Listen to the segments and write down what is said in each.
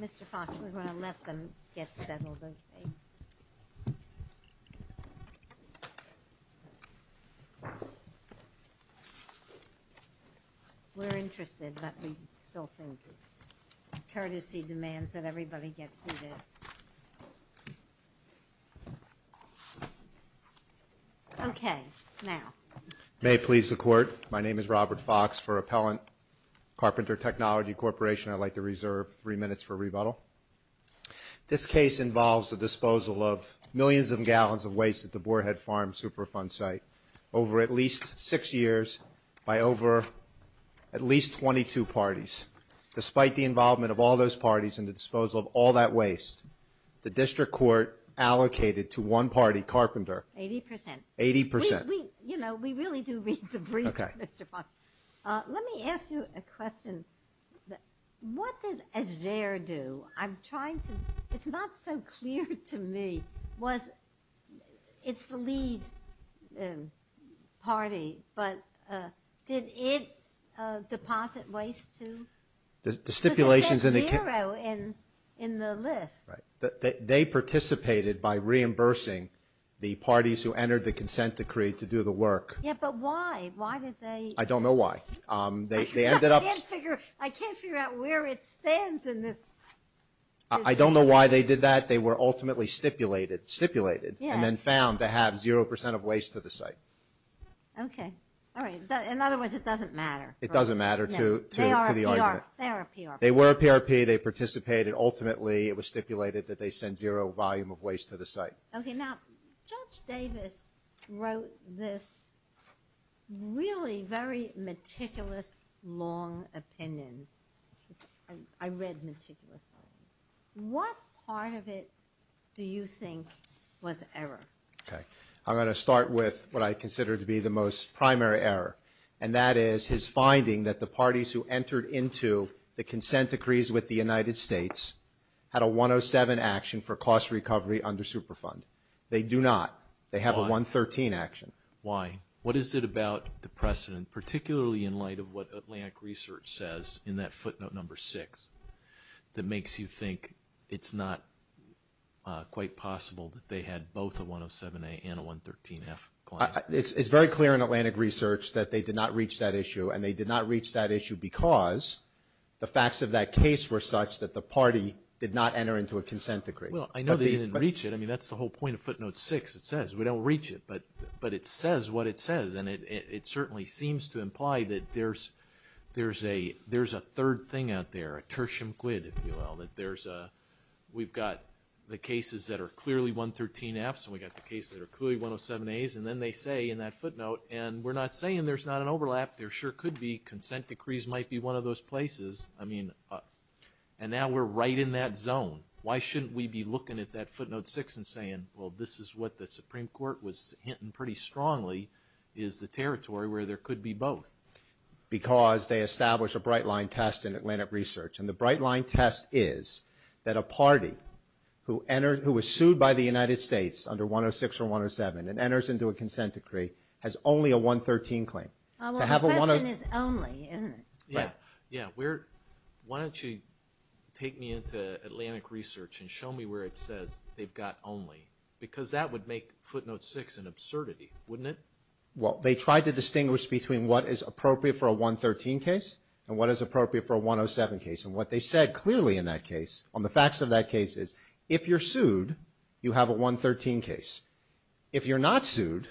Mr. Fox, we're going to let them get settled, aren't we? May it please the Court, my name is Robert Fox for Appellant Carpenter Technology Corporation. I'd like to reserve three minutes for rebuttal. This case involves the disposal of millions of gallons of waste at the Boar Head Farm Superfund site over at least six years by over at least 22 parties. Despite the involvement of all those parties and the disposal of all that waste, the District Court allocated to one party, Carpenter, 80%. You know, we really do read the briefs, Mr. Fox. Let me ask you a question. What did AJAIR do? I'm trying to, it's not so clear to me, was, it's the lead party, but did it deposit waste to? The stipulations in the list. They participated by reimbursing the parties who entered the consent decree to do the work. Yeah, but why? Why did they? I don't know why. They ended up. I can't figure out where it stands in this. I don't know why they did that. They were ultimately stipulated and then found to have 0% of waste to the site. Okay. All right. In other words, it doesn't matter. It doesn't matter to the argument. They are a PRP. They were a PRP. They participated. Ultimately, it was stipulated that they send zero volume of waste to the site. Okay. Now, Judge Davis wrote this really very meticulous, long opinion. I read meticulous. What part of it do you think was error? Okay. I'm going to start with what I consider to be the most primary error, and that is his finding that the parties who entered into the consent decrees with the United States had a 107 action for cost recovery under Superfund. They do not. They have a 113 action. Why? What is it about the precedent, particularly in light of what Atlantic Research says in that footnote number six, that makes you think it's not quite possible that they had both a 107A and a 113F claim? It's very clear in Atlantic Research that they did not reach that issue, and they did not reach that issue because the facts of that case were such that the party did not enter into a consent decree. Well, I know they didn't reach it. I mean, that's the whole point of footnote six. It says we don't reach it, but it says what it says, and it certainly seems to imply that there's a third thing out there, a tertium quid, if you will, that there's a we've got the cases that are clearly 113Fs, and we've got the cases that are clearly 107As, and then they say in that footnote, and we're not saying there's not an overlap. There sure could be. Consent decrees might be one of those places. I mean, and now we're right in that zone. Why shouldn't we be looking at that footnote six and saying, well, this is what the Supreme Court was hinting pretty strongly is the territory where there could be both? Because they established a bright line test in Atlantic Research, and the bright line test is that a party who was sued by the United States under 106 or 107 and enters into a The question is only, isn't it? Yeah. Yeah. Why don't you take me into Atlantic Research and show me where it says they've got only? Because that would make footnote six an absurdity, wouldn't it? Well, they tried to distinguish between what is appropriate for a 113 case and what is appropriate for a 107 case, and what they said clearly in that case on the facts of that case is if you're sued, you have a 113 case. If you're not sued,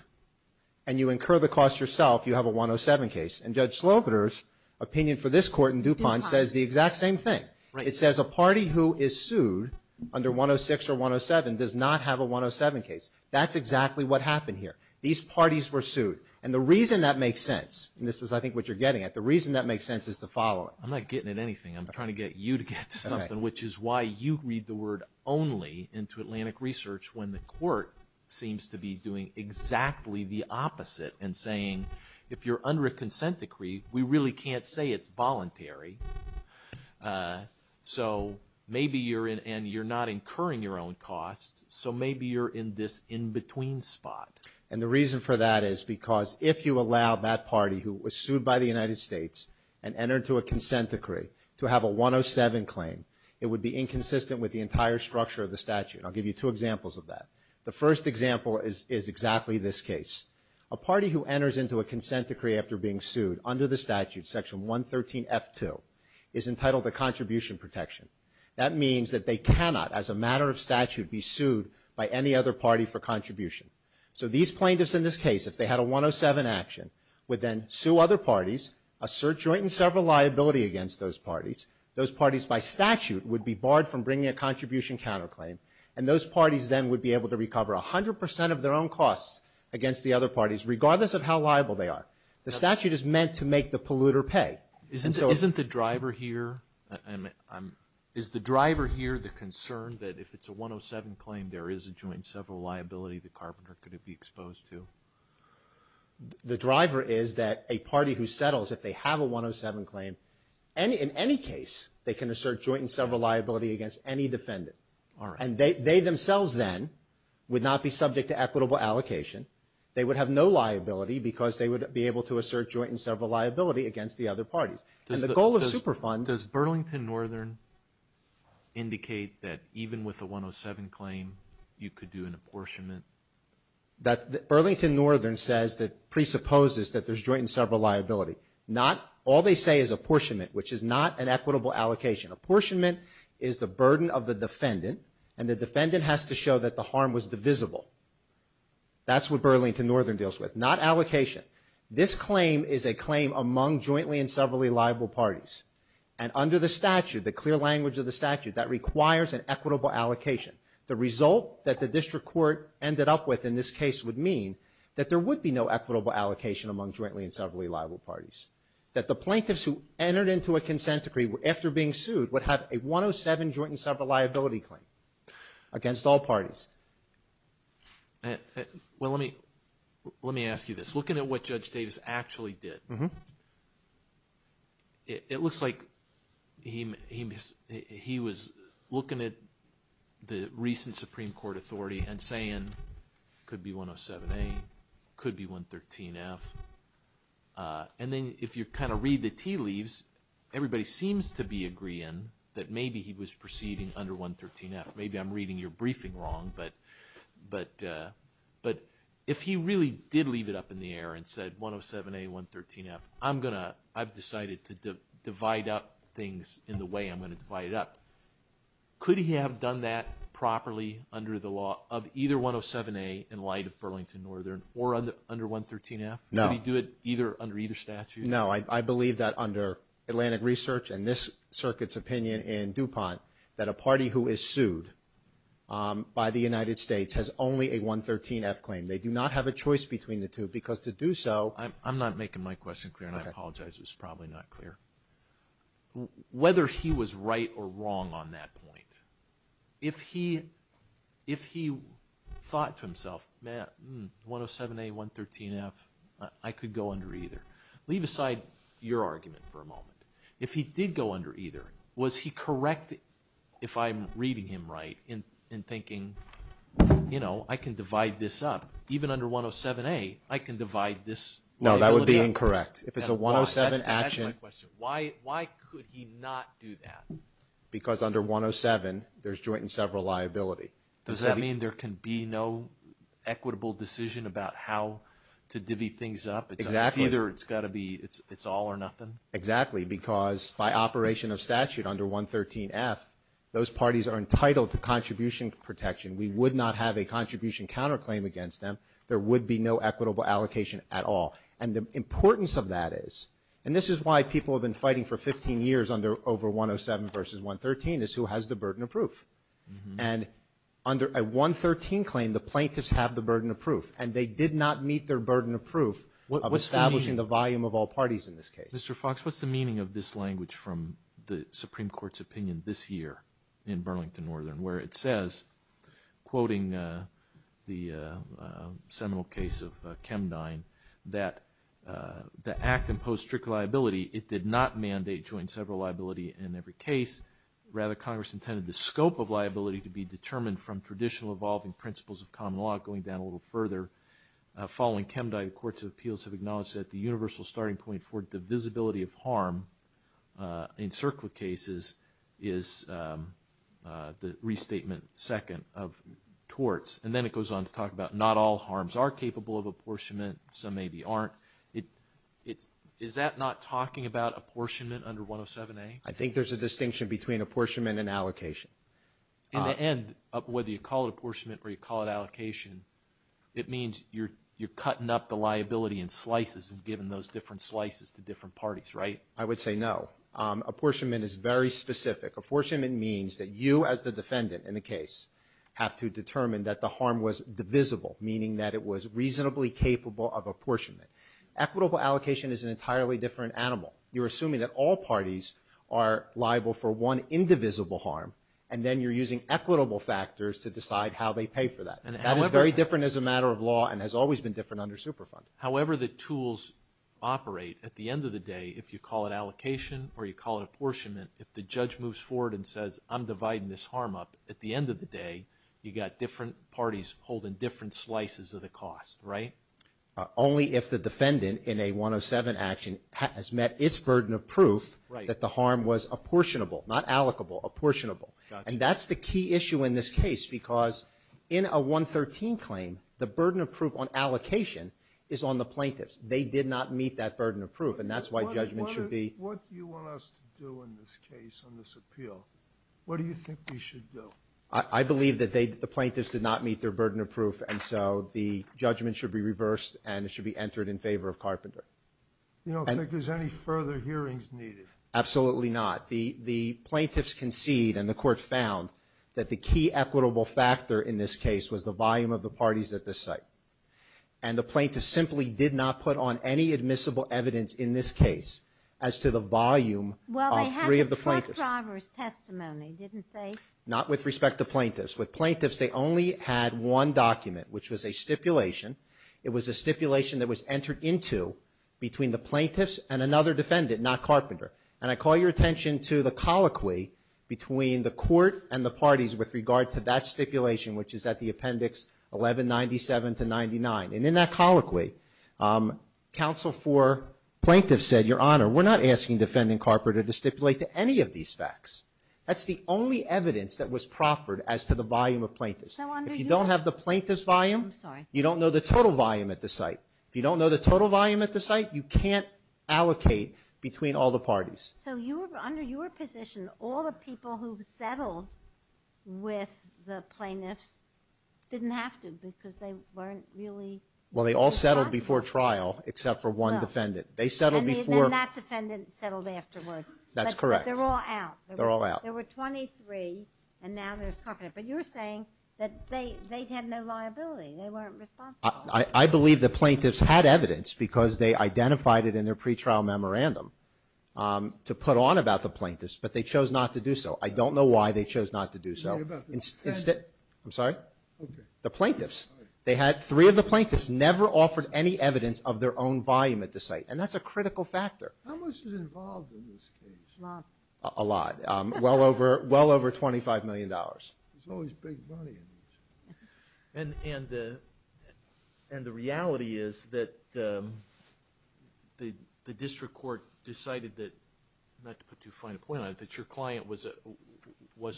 and you incur the cost yourself, you have a 107 case. And Judge Slocater's opinion for this court in DuPont says the exact same thing. It says a party who is sued under 106 or 107 does not have a 107 case. That's exactly what happened here. These parties were sued, and the reason that makes sense, and this is, I think, what you're getting at, the reason that makes sense is the following. I'm not getting at anything. I'm trying to get you to get to something, which is why you read the word only into Atlantic Research when the court seems to be doing exactly the opposite and saying if you're under a consent decree, we really can't say it's voluntary. So maybe you're in, and you're not incurring your own cost, so maybe you're in this in-between spot. And the reason for that is because if you allow that party who was sued by the United States and entered to a consent decree to have a 107 claim, it would be inconsistent with the entire structure of the statute. I'll give you two examples of that. The first example is exactly this case. A party who enters into a consent decree after being sued under the statute, section 113 F2, is entitled to contribution protection. That means that they cannot, as a matter of statute, be sued by any other party for contribution. So these plaintiffs in this case, if they had a 107 action, would then sue other parties, assert joint and several liability against those parties. Those parties, by statute, would be barred from bringing a contribution counterclaim, and those parties then would be able to recover 100 percent of their own costs against the other parties, regardless of how liable they are. The statute is meant to make the polluter pay. Isn't the driver here the concern that if it's a 107 claim, there is a joint and several liability that Carpenter could be exposed to? The driver is that a party who settles, if they have a 107 claim, in any case, they can assert joint and several liability against any defendant. And they themselves then would not be subject to equitable allocation. They would have no liability because they would be able to assert joint and several liability against the other parties. And the goal of Superfund... Does Burlington Northern indicate that even with a 107 claim, you could do an apportionment? Burlington Northern presupposes that there's joint and several liability. Not... All they say is apportionment, which is not an equitable allocation. Apportionment is the burden of the defendant, and the defendant has to show that the harm was divisible. That's what Burlington Northern deals with, not allocation. This claim is a claim among jointly and several liable parties. And under the statute, the clear language of the statute, that requires an equitable allocation. The result that the district court ended up with in this case would mean that there would be no equitable allocation among jointly and several liable parties. That the plaintiffs who entered into a consent decree after being sued would have a 107 joint and several liability claim against all parties. Well, let me... Let me ask you this. Looking at what Judge Davis actually did... The recent Supreme Court authority and saying, could be 107A, could be 113F. And then if you kind of read the tea leaves, everybody seems to be agreeing that maybe he was proceeding under 113F. Maybe I'm reading your briefing wrong, but if he really did leave it up in the air and said 107A, 113F, I'm going to... I've decided to divide up things in the way I'm going to divide it up. Could he have done that properly under the law of either 107A in light of Burlington Northern or under 113F? No. Could he do it under either statute? No. I believe that under Atlantic Research and this circuit's opinion in DuPont, that a party who is sued by the United States has only a 113F claim. They do not have a choice between the two because to do so... I'm not making my question clear and I apologize, it was probably not clear. Whether he was right or wrong on that point, if he thought to himself, man, 107A, 113F, I could go under either. Leave aside your argument for a moment. If he did go under either, was he correct if I'm reading him right and thinking, you know, I can divide this up. Even under 107A, I can divide this liability up. No, that would be incorrect. If it's a 107 action... That's the actual question. Why could he not do that? Because under 107, there's joint and several liability. Does that mean there can be no equitable decision about how to divvy things up? Exactly. It's either, it's got to be, it's all or nothing? Exactly. Because by operation of statute under 113F, those parties are entitled to contribution protection. We would not have a contribution counterclaim against them. There would be no equitable allocation at all. And the importance of that is, and this is why people have been fighting for 15 years under over 107 versus 113, is who has the burden of proof. And under a 113 claim, the plaintiffs have the burden of proof. And they did not meet their burden of proof of establishing the volume of all parties in this case. Mr. Fox, what's the meaning of this language from the Supreme Court's opinion this year in Burlington Northern, where it says, quoting the seminal case of Chemdine, that the act imposed strict liability. It did not mandate joint and several liability in every case. Rather, Congress intended the scope of liability to be determined from traditional evolving principles of common law. Going down a little further, following Chemdine, courts of appeals have acknowledged that the restatement second of torts. And then it goes on to talk about not all harms are capable of apportionment. Some maybe aren't. Is that not talking about apportionment under 107A? I think there's a distinction between apportionment and allocation. In the end, whether you call it apportionment or you call it allocation, it means you're cutting up the liability in slices and giving those different slices to different parties, right? I would say no. Apportionment is very specific. Apportionment means that you, as the defendant in the case, have to determine that the harm was divisible, meaning that it was reasonably capable of apportionment. Equitable allocation is an entirely different animal. You're assuming that all parties are liable for one indivisible harm, and then you're using equitable factors to decide how they pay for that. That is very different as a matter of law and has always been different under Superfund. However the tools operate, at the end of the day, if you call it allocation or you call it apportionment, if the judge moves forward and says, I'm dividing this harm up, at the end of the day, you've got different parties holding different slices of the cost, right? Only if the defendant in a 107 action has met its burden of proof that the harm was apportionable, not allocable, apportionable. And that's the key issue in this case because in a 113 claim, the burden of proof on allocation is on the plaintiffs. They did not meet that burden of proof, and that's why judgment should be... What do you want us to do in this case on this appeal? What do you think we should do? I believe that the plaintiffs did not meet their burden of proof, and so the judgment should be reversed and it should be entered in favor of Carpenter. You don't think there's any further hearings needed? Absolutely not. The plaintiffs concede, and the court found, that the key equitable factor in this case was the volume of the parties at this site. And the plaintiffs simply did not put on any admissible evidence in this case as to the volume of three of the plaintiffs. Well, they had the truck driver's testimony, didn't they? Not with respect to plaintiffs. With plaintiffs, they only had one document, which was a stipulation. It was a stipulation that was entered into between the plaintiffs and another defendant, not Carpenter. And I call your attention to the colloquy between the court and the parties with regard to that stipulation, which is at the appendix 1197 to 99. And in that colloquy, counsel for plaintiffs said, Your Honor, we're not asking defendant Carpenter to stipulate to any of these facts. That's the only evidence that was proffered as to the volume of plaintiffs. So under your- If you don't have the plaintiff's volume- I'm sorry. You don't know the total volume at the site. If you don't know the total volume at the site, you can't allocate between all the parties. So under your position, all the people who settled with the plaintiffs didn't have to because they weren't really- Well, they all settled before trial except for one defendant. They settled before- And then that defendant settled afterwards. That's correct. But they're all out. They're all out. There were 23, and now there's Carpenter. But you're saying that they had no liability. They weren't responsible. I believe the plaintiffs had evidence because they identified it in their pre-trial memorandum to put on about the plaintiffs, but they chose not to do so. I don't know why they chose not to do so. Sorry about that. I'm sorry? Okay. The plaintiffs. They had- three of the plaintiffs never offered any evidence of their own volume at the site, and that's a critical factor. How much is involved in this case? Lots. A lot. Well over $25 million. There's always big money in these. And the reality is that the district court decided that- not to put too fine a point on it- that your client was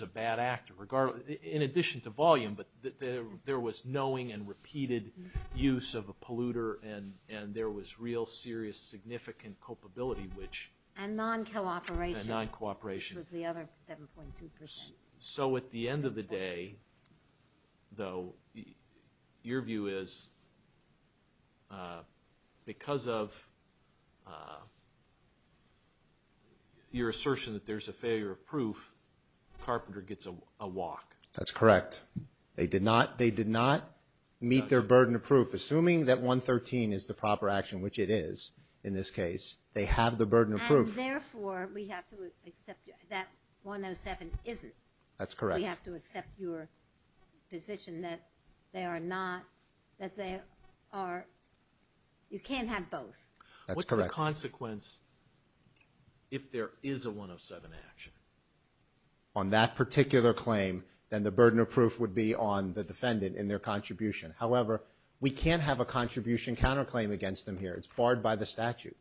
a bad actor. In addition to volume, but there was knowing and repeated use of a polluter, and there was real serious significant culpability which- And non-cooperation. And non-cooperation. Which was the other 7.2%. So at the end of the day, though, your view is because of your assertion that there's a failure of proof, Carpenter gets a walk. That's correct. They did not- they did not meet their burden of proof. Assuming that 113 is the proper action, which it is in this case, they have the burden of proof. Therefore, we have to accept that 107 isn't. That's correct. We have to accept your position that they are not- that they are- you can't have both. That's correct. What's the consequence if there is a 107 action? On that particular claim, then the burden of proof would be on the defendant in their contribution. However, we can't have a contribution counterclaim against them here. It's barred by the statute.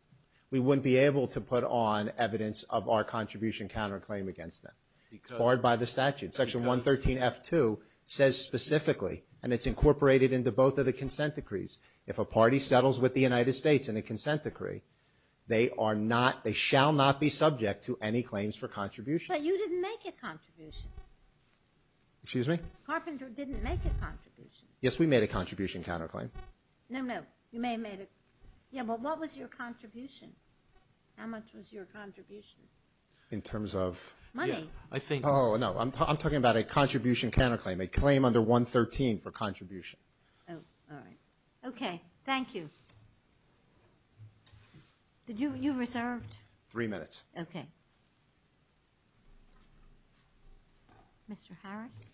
We wouldn't be able to put on evidence of our contribution counterclaim against them. It's barred by the statute. Section 113F2 says specifically, and it's incorporated into both of the consent decrees, if a party settles with the United States in a consent decree, they are not- they shall not be subject to any claims for contribution. But you didn't make a contribution. Excuse me? Carpenter didn't make a contribution. Yes, we made a contribution counterclaim. No, no. You may have made a- yeah. Well, what was your contribution? How much was your contribution? In terms of? Money. I think- Oh, no. I'm talking about a contribution counterclaim. A claim under 113 for contribution. Oh, all right. Okay. Thank you. Did you- you reserved? Three minutes. Okay. Mr. Harris?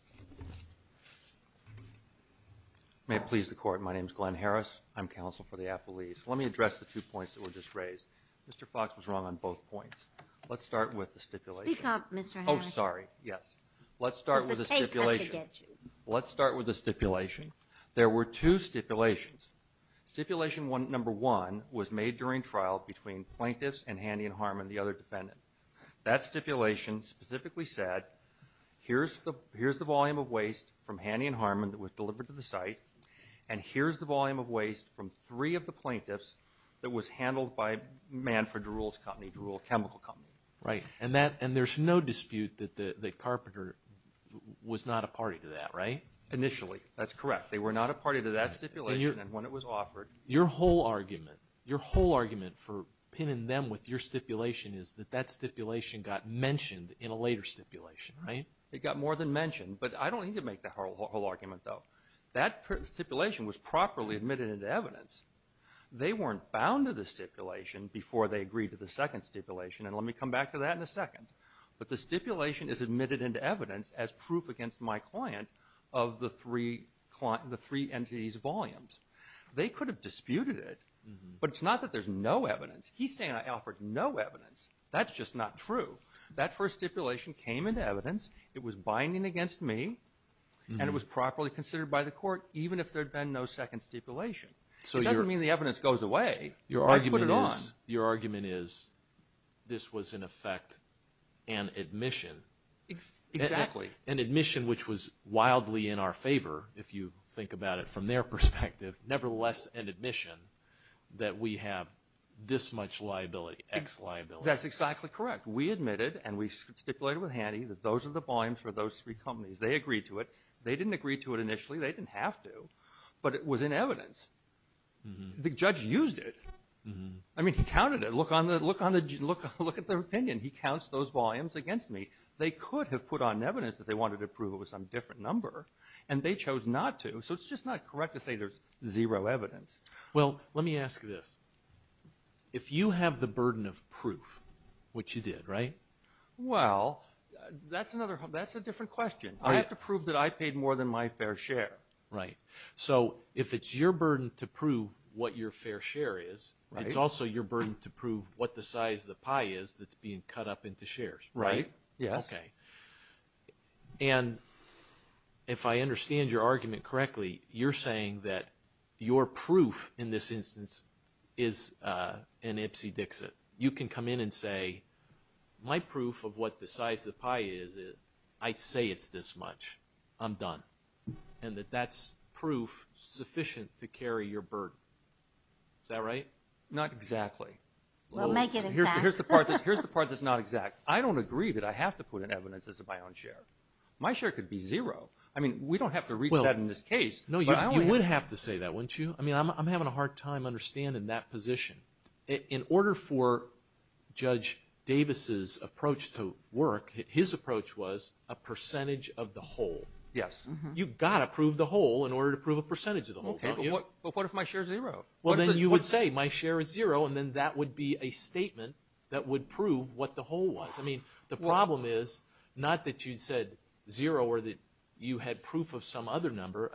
May it please the Court. My name's Glenn Harris. I'm counsel for the Appellees. Let me address the two points that were just raised. Mr. Fox was wrong on both points. Let's start with the stipulation. Speak up, Mr. Harris. Oh, sorry. Yes. Let's start with the stipulation. Let's start with the stipulation. There were two stipulations. Stipulation one- number one was made during trial between plaintiffs and Haney and Harmon, the other defendant. That stipulation specifically said, here's the- here's the volume of waste from Haney and Harmon that was delivered to the site. And here's the volume of waste from three of the plaintiffs that was handled by Manfred Druhl's company, Druhl Chemical Company. Right. And there's no dispute that Carpenter was not a party to that, right? Initially. That's correct. They were not a party to that stipulation, and when it was offered- Your whole argument- your whole argument for pinning them with your stipulation is that that stipulation got mentioned in a later stipulation, right? It got more than mentioned, but I don't need to make the whole argument, though. That stipulation was properly admitted into evidence. They weren't bound to the stipulation before they agreed to the second stipulation, and let me come back to that in a second. But the stipulation is admitted into evidence as proof against my client of the three entities' volumes. They could have disputed it, but it's not that there's no evidence. He's saying I offered no evidence. That's just not true. That first stipulation came into evidence. It was binding against me, and it was properly considered by the court, even if there'd been no second stipulation. It doesn't mean the evidence goes away. I put it on. Your argument is this was, in effect, an admission. Exactly. An admission which was wildly in our favor, if you think about it from their perspective. Nevertheless, an admission that we have this much liability, X liability. That's exactly correct. We admitted, and we stipulated with Haney that those are the volumes for those three companies. They agreed to it. They didn't agree to it initially. They didn't have to, but it was in evidence. The judge used it. I mean, he counted it. Look at their opinion. He counts those volumes against me. They could have put on evidence that they wanted to prove it was some different number, and they chose not to. So it's just not correct to say there's zero evidence. Well, let me ask this. If you have the burden of proof, which you did, right? Well, that's a different question. I have to prove that I paid more than my fair share. Right. So if it's your burden to prove what your fair share is, it's also your burden to prove what the size of the pie is that's being cut up into shares. Right. Yes. OK. And if I understand your argument correctly, you're saying that your proof in this instance is an Ipsy Dixit. You can come in and say, my proof of what the size of the pie is, I'd say it's this much. I'm done. And that that's proof sufficient to carry your burden. Is that right? Not exactly. We'll make it exact. Here's the part that's not exact. I don't agree that I have to put in evidence as to my own share. My share could be zero. I mean, we don't have to reach that in this case. No, you would have to say that, wouldn't you? I mean, I'm having a hard time understanding that position. In order for Judge Davis's approach to work, his approach was a percentage of the whole. Yes. You've got to prove the whole in order to prove a percentage of the whole, don't you? But what if my share is zero? Well, then you would say, my share is zero. And then that would be a statement that would prove what the whole was. I mean, the problem is not that you said zero or that you had proof of some other number.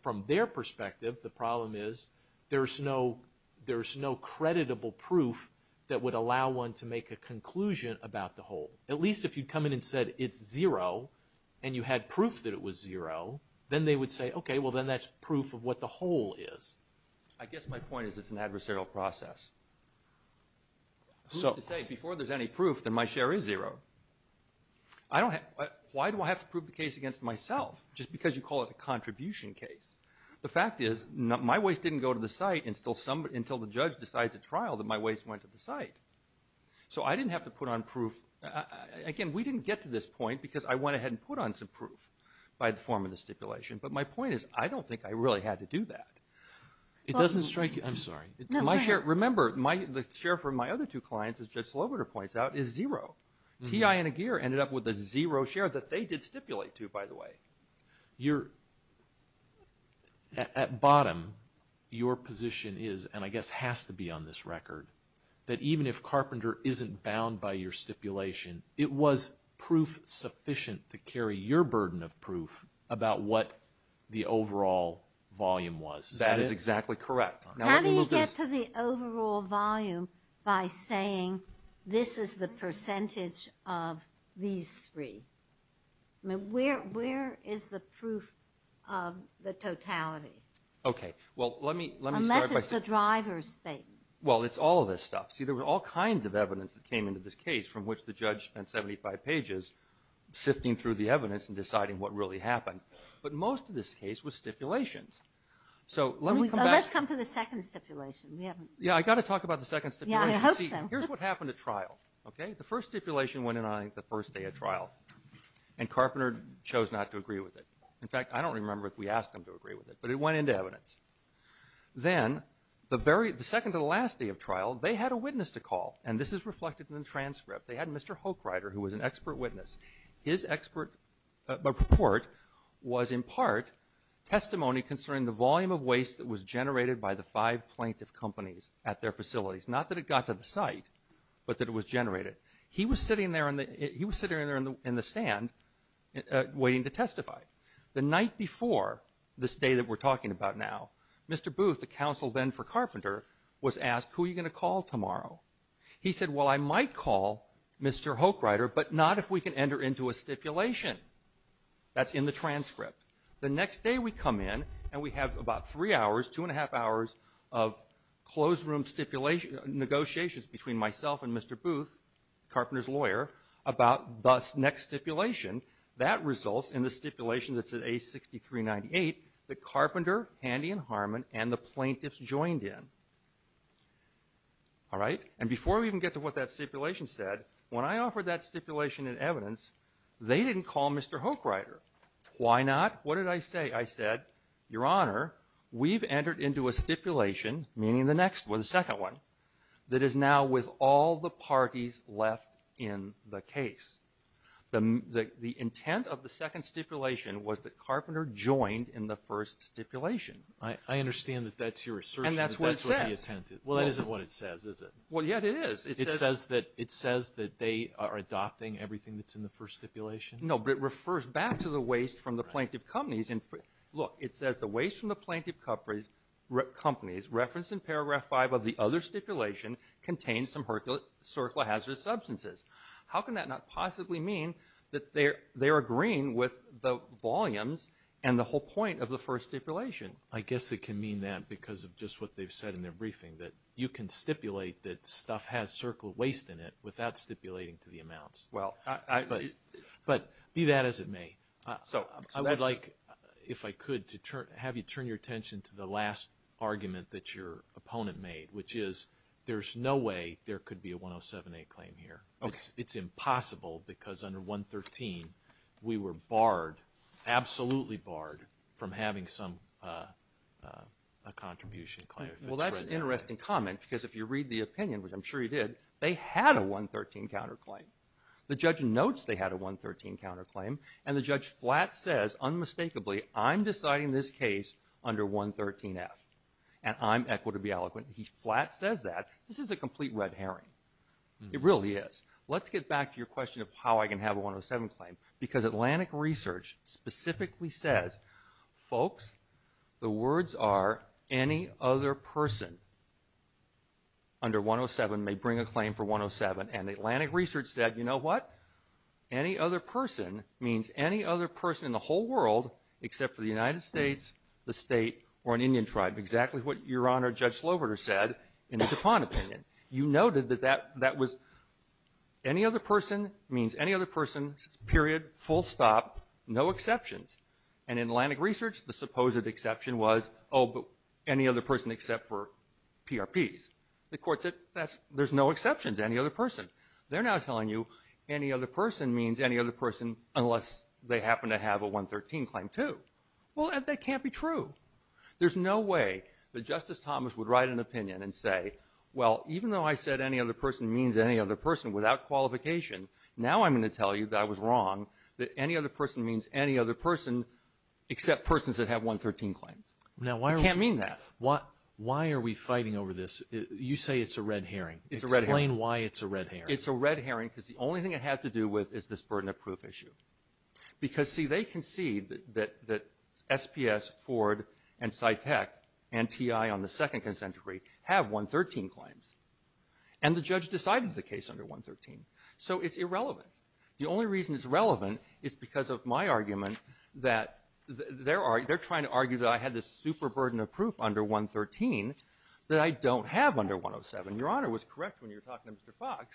From their perspective, the problem is there's no creditable proof that would allow one to make a conclusion about the whole. At least if you'd come in and said, it's zero, and you had proof that it was zero, then they would say, OK, well, then that's proof of what the whole is. I guess my point is it's an adversarial process. So to say, before there's any proof, then my share is zero. Why do I have to prove the case against myself just because you call it a contribution case? The fact is, my waste didn't go to the site until the judge decides at trial that my waste went to the site. So I didn't have to put on proof. Again, we didn't get to this point because I went ahead and put on some proof by the form of the stipulation. But my point is, I don't think I really had to do that. It doesn't strike you. I'm sorry. Remember, the share from my other two clients, as Judge Sloboda points out, is zero. TI and Aguirre ended up with a zero share that they did stipulate to, by the way. At bottom, your position is, and I guess has to be on this record, that even if Carpenter isn't bound by your stipulation, it was proof sufficient to carry your burden of proof about what the overall volume was. That is exactly correct. How do you get to the overall volume by saying, this is the percentage of these three? Where is the proof of the totality? Okay. Well, let me start by saying— Unless it's the driver's statements. Well, it's all of this stuff. See, there were all kinds of evidence that came into this case from which the judge spent 75 pages sifting through the evidence and deciding what really happened. But most of this case was stipulations. So let me come back— Let's come to the second stipulation. Yeah, I've got to talk about the second stipulation. Yeah, I hope so. Here's what happened at trial, okay? The first stipulation went in on the first day of trial, and Carpenter chose not to agree with it. In fact, I don't remember if we asked him to agree with it, but it went into evidence. Then, the second to the last day of trial, they had a witness to call. And this is reflected in the transcript. They had Mr. Hochreiter, who was an expert witness. His report was in part testimony concerning the volume of waste that was generated by the five plaintiff companies at their facilities. Not that it got to the site, but that it was generated. He was sitting there in the stand waiting to testify. The night before this day that we're talking about now, Mr. Booth, the counsel then for Carpenter, was asked, who are you going to call tomorrow? He said, well, I might call Mr. Hochreiter, but not if we can enter into a stipulation. That's in the transcript. The next day we come in, and we have about three hours, two and a half hours of closed-room negotiations between myself and Mr. Booth, Carpenter's lawyer, about the next stipulation. That results in the stipulation that's in A6398 that Carpenter, Handy, and Harmon, and the plaintiffs joined in. All right? And before we even get to what that stipulation said, when I offered that stipulation and evidence, they didn't call Mr. Hochreiter. Why not? What did I say? I said, your honor, we've entered into a stipulation, meaning the next one, the second one, that is now with all the parties left in the case. The intent of the second stipulation was that Carpenter joined in the first stipulation. I understand that that's your assertion. And that's what it says. Well, that isn't what it says, is it? Well, yet it is. It says that they are adopting everything that's in the first stipulation? No, but it refers back to the waste from the plaintiff companies. Look, it says the waste from the plaintiff companies referenced in paragraph five of the other stipulation contains some Herculean, circular hazardous substances. How can that not possibly mean that they're agreeing with the volumes and the whole point of the first stipulation? I guess it can mean that because of just what they've said in their briefing, that you can stipulate that stuff has circular waste in it without stipulating to the amounts. Well, I... But be that as it may, I would like, if I could, to have you turn your attention to the last argument that your opponent made, which is there's no way there could be a 107A claim here. It's impossible because under 113, we were barred, absolutely barred, from having some contribution claim. Well, that's an interesting comment because if you read the opinion, which I'm sure you did, they had a 113 counterclaim. The judge notes they had a 113 counterclaim, and the judge flat says unmistakably, I'm deciding this case under 113F, and I'm equitable to be eloquent. He flat says that. This is a complete red herring. It really is. Let's get back to your question of how I can have a 107 claim because Atlantic Research specifically says, folks, the words are, any other person under 107 may bring a claim for 107. And Atlantic Research said, you know what, any other person means any other person in the whole world except for the United States, the state, or an Indian tribe. Exactly what Your Honor, Judge Sloverter said in the DuPont opinion. You noted that that was, any other person means any other person, period, full stop, no exceptions. And in Atlantic Research, the supposed exception was, oh, but any other person except for PRPs. The court said, there's no exceptions to any other person. They're now telling you, any other person means any other person unless they happen to have a 113 claim too. Well, that can't be true. There's no way that Justice Thomas would write an opinion and say, well, even though I said any other person means any other person without qualification, now I'm going to tell you that I was wrong, that any other person means any other person except persons that have 113 claims. You can't mean that. Why are we fighting over this? You say it's a red herring. It's a red herring. Explain why it's a red herring. It's a red herring because the only thing it has to do with is this burden of proof issue. Because, see, they concede that SPS, Ford, and SciTech, and TI on the second consent decree have 113 claims. And the judge decided the case under 113. So it's irrelevant. The only reason it's relevant is because of my argument that they're trying to argue that I had this super burden of proof under 113 that I don't have under 107. And Your Honor was correct when you were talking to Mr. Fox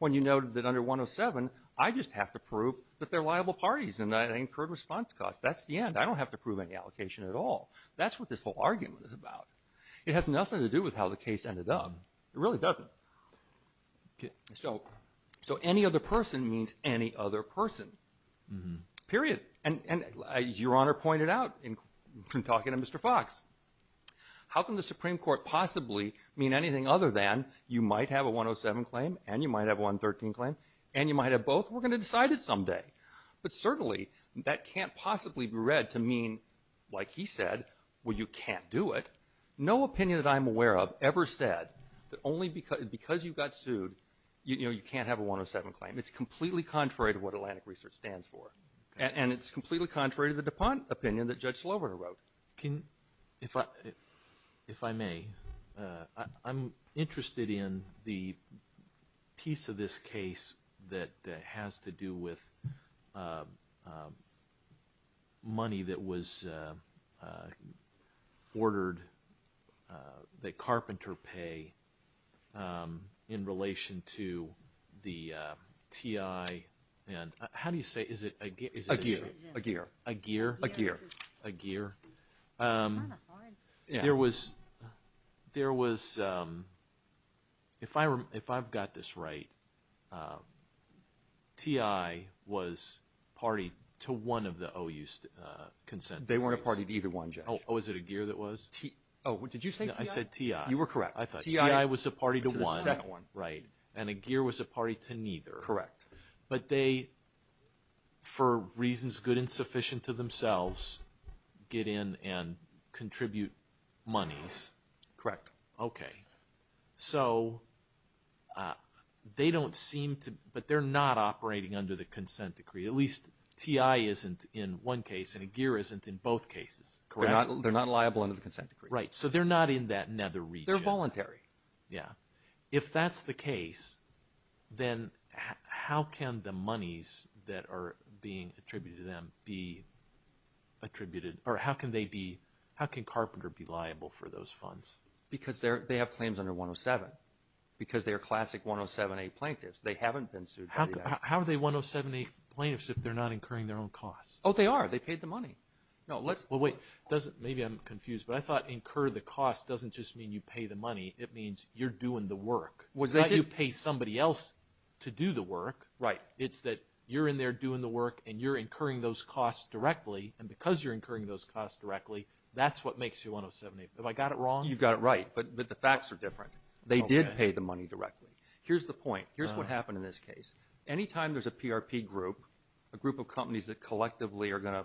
when you noted that under 107, I just have to prove that they're liable parties and that I incurred response costs. That's the end. I don't have to prove any allocation at all. That's what this whole argument is about. It has nothing to do with how the case ended up. It really doesn't. So any other person means any other person, period. And as Your Honor pointed out in talking to Mr. Fox, how can the Supreme Court possibly mean anything other than you might have a 107 claim, and you might have a 113 claim, and you might have both? We're going to decide it someday. But certainly, that can't possibly be read to mean, like he said, well, you can't do it. No opinion that I'm aware of ever said that only because you got sued, you can't have a 107 claim. It's completely contrary to what Atlantic Research stands for. And it's completely contrary to the DuPont opinion that Judge Slover wrote. Can, if I may, I'm interested in the piece of this case that has to do with money that was ordered that Carpenter pay in relation to the TI, and how do you say, is it a gear? A gear. A gear. A gear? A gear. A gear. There was, if I've got this right, TI was party to one of the OU's consent parties. They weren't a party to either one, Judge. Oh, was it a gear that was? Oh, did you say TI? I said TI. You were correct. I thought TI was a party to one. To the second one. Right. And a gear was a party to neither. Correct. But they, for reasons good and sufficient to themselves, get in and contribute monies. Correct. Okay. So they don't seem to, but they're not operating under the consent decree. At least TI isn't in one case, and a gear isn't in both cases. Correct? They're not liable under the consent decree. Right. So they're not in that nether region. They're voluntary. Yeah. If that's the case, then how can the monies that are being attributed to them be attributed, or how can they be, how can Carpenter be liable for those funds? Because they have claims under 107. Because they're classic 107A plaintiffs. They haven't been sued. How are they 107A plaintiffs if they're not incurring their own costs? Oh, they are. They paid the money. No, let's... Well, wait. Maybe I'm confused, but I thought incur the cost doesn't just mean you pay the money. It means you're doing the work. It's not you pay somebody else to do the work. Right. It's that you're in there doing the work, and you're incurring those costs directly, and because you're incurring those costs directly, that's what makes you 107A. Have I got it wrong? You've got it right, but the facts are different. They did pay the money directly. Here's the point. Here's what happened in this case. Anytime there's a PRP group, a group of companies that collectively are going to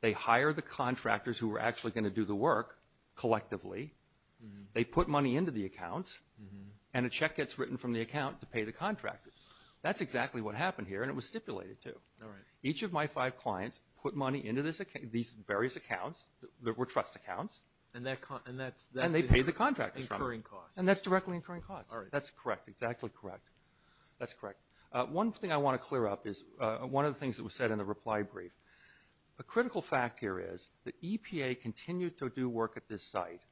They hire the contractors who are actually going to do the work collectively. They put money into the accounts, and a check gets written from the account to pay the contractors. That's exactly what happened here, and it was stipulated too. All right. Each of my five clients put money into these various accounts that were trust accounts. And that's... And they pay the contractors from it. ...incurring costs. And that's directly incurring costs. All right. That's correct. Exactly correct. That's correct. One thing I want to clear up is one of the things that was said in the reply brief. A critical fact here is the EPA continued to do work at this site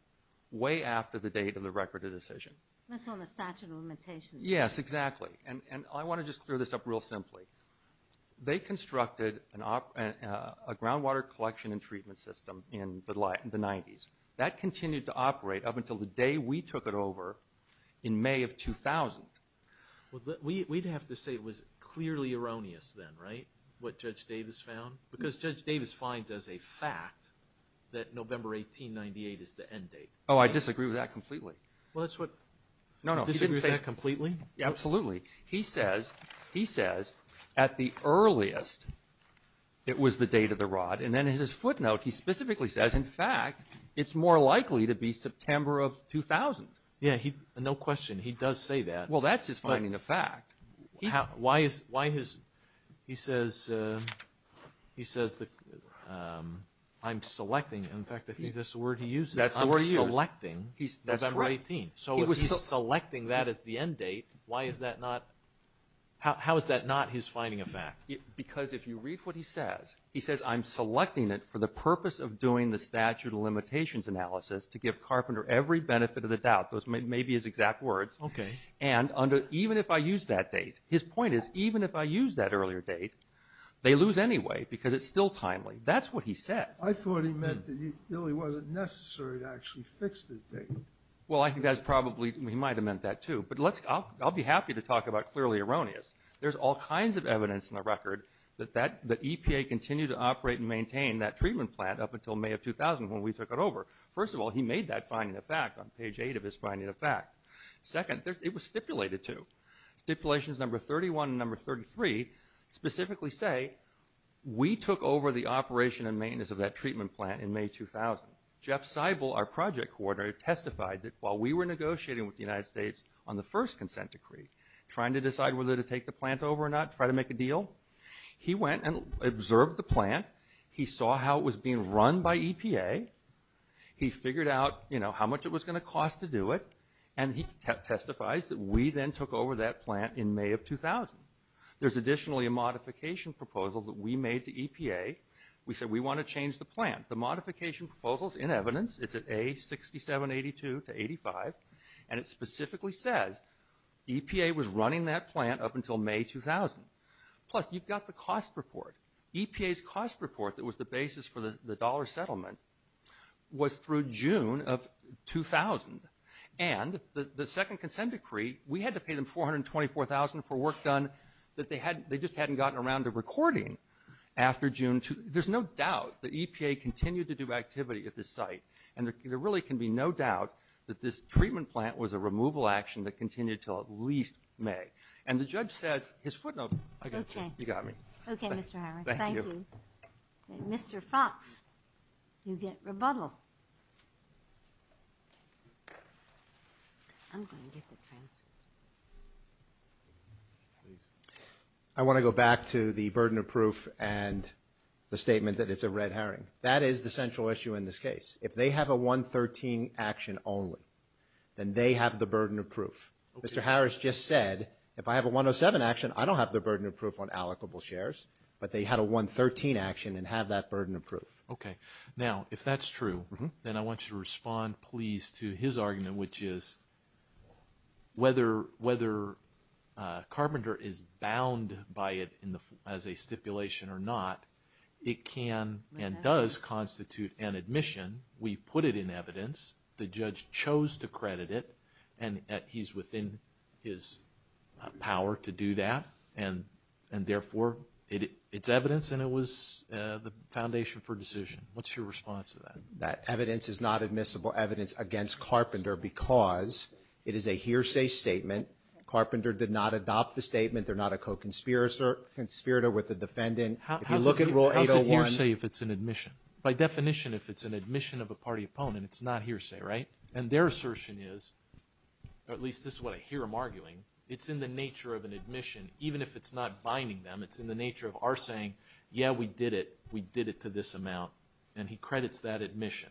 way after the date of the record of decision. That's on the statute of limitations. Yes, exactly. And I want to just clear this up real simply. They constructed a groundwater collection and treatment system in the 90s. That continued to operate up until the day we took it over in May of 2000. We'd have to say it was clearly erroneous then, right? What Judge Davis found? Because Judge Davis finds as a fact that November 1898 is the end date. Oh, I disagree with that completely. Well, that's what... No, no, he didn't say... He disagrees with that completely? Absolutely. He says, at the earliest, it was the date of the rod. And then in his footnote, he specifically says, in fact, it's more likely to be September of 2000. Yeah, no question. He does say that. Well, that's his finding of fact. Why is... He says, I'm selecting... In fact, I think that's the word he uses. That's the word he uses. I'm selecting November 18. So, if he's selecting that as the end date, why is that not... How is that not his finding of fact? Because if you read what he says, he says, I'm selecting it for the purpose of doing the statute of limitations analysis to give Carpenter every benefit of the doubt. Those may be his exact words. Okay. And even if I use that date... His point is, even if I use that earlier date, they lose anyway because it's still timely. That's what he said. I thought he meant that it really wasn't necessary to actually fix the date. Well, I think that's probably... He might have meant that too. But I'll be happy to talk about clearly erroneous. There's all kinds of evidence in the record that the EPA continued to operate and maintain that treatment plant up until May of 2000 when we took it over. First of all, he made that finding of fact on page eight of his finding of fact. Second, it was stipulated to. Stipulations number 31 and number 33 specifically say, we took over the operation and maintenance of that treatment plant in May 2000. Jeff Seibel, our project coordinator, testified that while we were negotiating with the United States on the first consent decree, trying to decide whether to take the plant over or not, try to make a deal, he went and observed the plant. He saw how it was being run by EPA. He figured out, you know, how much it was going to cost to do it. And he testifies that we then took over that plant in May of 2000. There's additionally a modification proposal that we made to EPA. We said, we want to change the plant. The modification proposal's in evidence. It's at A6782 to 85. And it specifically says, EPA was running that plant up until May 2000. Plus, you've got the cost report. EPA's cost report that was the basis for the dollar settlement was through June of 2000. And the second consent decree, we had to pay them $424,000 for work done that they just hadn't gotten around to recording after June. There's no doubt that EPA continued to do activity at this site. And there really can be no doubt that this treatment plant was a removal action that continued until at least May. And the judge says, his footnote. I got you. You got me. Okay, Mr. Harris. Thank you. Mr. Fox, you get rebuttal. I'm going to get the transfer. I want to go back to the burden of proof and the statement that it's a red herring. That is the central issue in this case. If they have a 113 action only, then they have the burden of proof. Mr. Harris just said, if I have a 107 action, I don't have the burden of proof on allocable shares. But they had a 113 action and have that burden of proof. Okay. Now, if that's true, then I want you to respond, please, to his argument, which is whether Carpenter is bound by it as a stipulation or not, it can and does constitute an admission. We put it in evidence. The judge chose to credit it. And he's within his power to do that. And therefore, it's evidence. And it was the foundation for decision. What's your response to that? That evidence is not admissible evidence against Carpenter because it is a hearsay statement. Carpenter did not adopt the statement. They're not a co-conspirator with the defendant. If you look at Rule 801. How's it hearsay if it's an admission? By definition, if it's an admission of a party opponent, it's not hearsay, right? And their assertion is, or at least this is what I hear them arguing, it's in the nature of an admission. Even if it's not binding them, it's in the nature of our saying, yeah, we did it. We did it to this amount. And he credits that admission.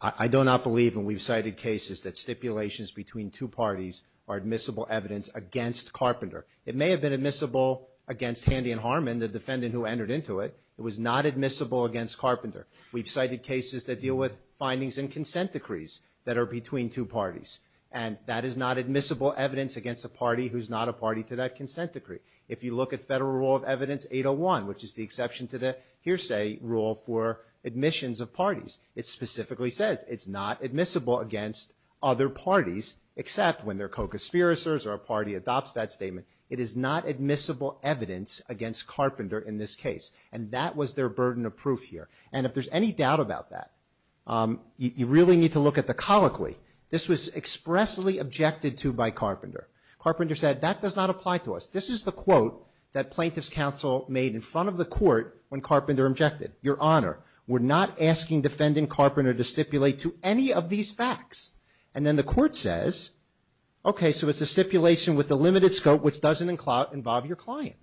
I do not believe, and we've cited cases that stipulations between two parties are admissible evidence against Carpenter. It may have been admissible against Handy and Harmon, the defendant who entered into it. It was not admissible against Carpenter. We've cited cases that deal with findings and consent decrees that are between two parties. And that is not admissible evidence against a party who's not a party to that consent decree. If you look at Federal Rule of Evidence 801, which is the exception to the hearsay rule for admissions of parties, it specifically says it's not admissible against other parties except when they're co-conspirators or a party adopts that statement. It is not admissible evidence against Carpenter in this case. And that was their burden of proof here. And if there's any doubt about that, you really need to look at the colloquy. This was expressly objected to by Carpenter. Carpenter said, that does not apply to us. This is the quote that plaintiff's counsel made in front of the court when Carpenter objected. Your Honor, we're not asking defendant Carpenter to stipulate to any of these facts. And then the court says, okay, so it's a stipulation with a limited scope which doesn't involve your client.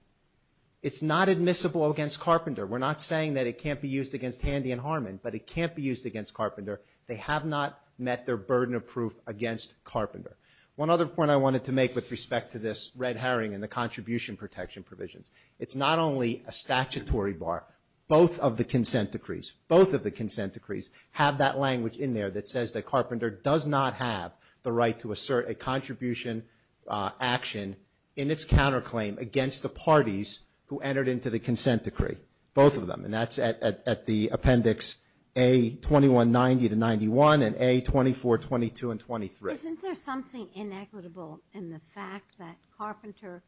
It's not admissible against Carpenter. We're not saying that it can't be used against Handy and Harmon, but it can't be used against Carpenter. They have not met their burden of proof against Carpenter. One other point I wanted to make with respect to this red herring and the contribution protection provisions. It's not only a statutory bar, both of the consent decrees, both of the consent decrees have that language in there that says that Carpenter does not have the right to assert a contribution action in its counterclaim against the parties who entered into the consent decree. Both of them, and that's at the appendix A2190 to 91, and A2422 and 23. Isn't there something inequitable in the fact that Carpenter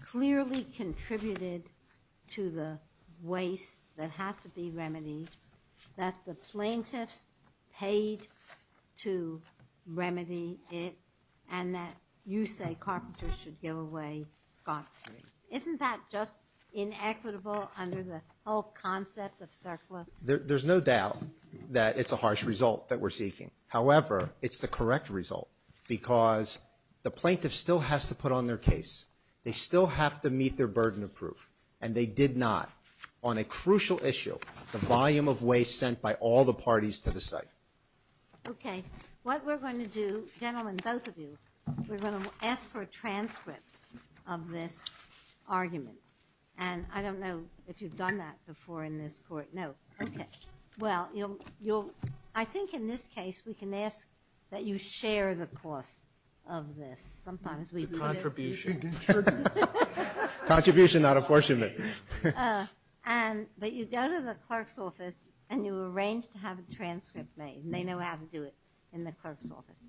clearly contributed to the waste that have to be remedied? That the plaintiffs paid to remedy it, and that you say Carpenter should give away Scott. Isn't that just inequitable under the whole concept of CERCLA? There's no doubt that it's a harsh result that we're seeking. However, it's the correct result because the plaintiff still has to put on their case. They still have to meet their burden of proof. And they did not on a crucial issue, the volume of waste sent by all the parties to the site. Okay, what we're going to do, gentlemen, both of you, we're going to ask for a transcript of this argument. And I don't know if you've done that before in this court. No, okay. Well, I think in this case, we can ask that you share the cost of this. Sometimes we- It's a contribution. Contribution, not apportionment. But you go to the clerk's office, and you arrange to have a transcript made. And they know how to do it in the clerk's office.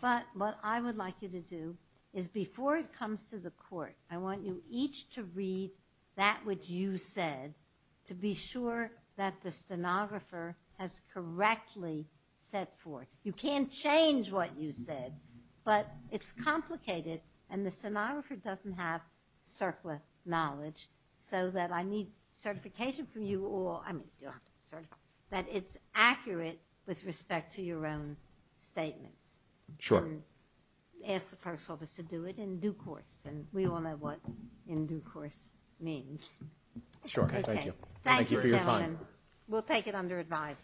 But what I would like you to do is before it comes to the court, I want you each to read that which you said to be sure that the stenographer has correctly set forth. You can't change what you said, but it's complicated. And the stenographer doesn't have CERCLA knowledge, so that I need certification from you all, I mean, you don't have to be certified, that it's accurate with respect to your own statements. Sure. Ask the clerk's office to do it in due course, and we all know what in due course means. Sure, thank you. Thank you for your time. We'll take it under advisement.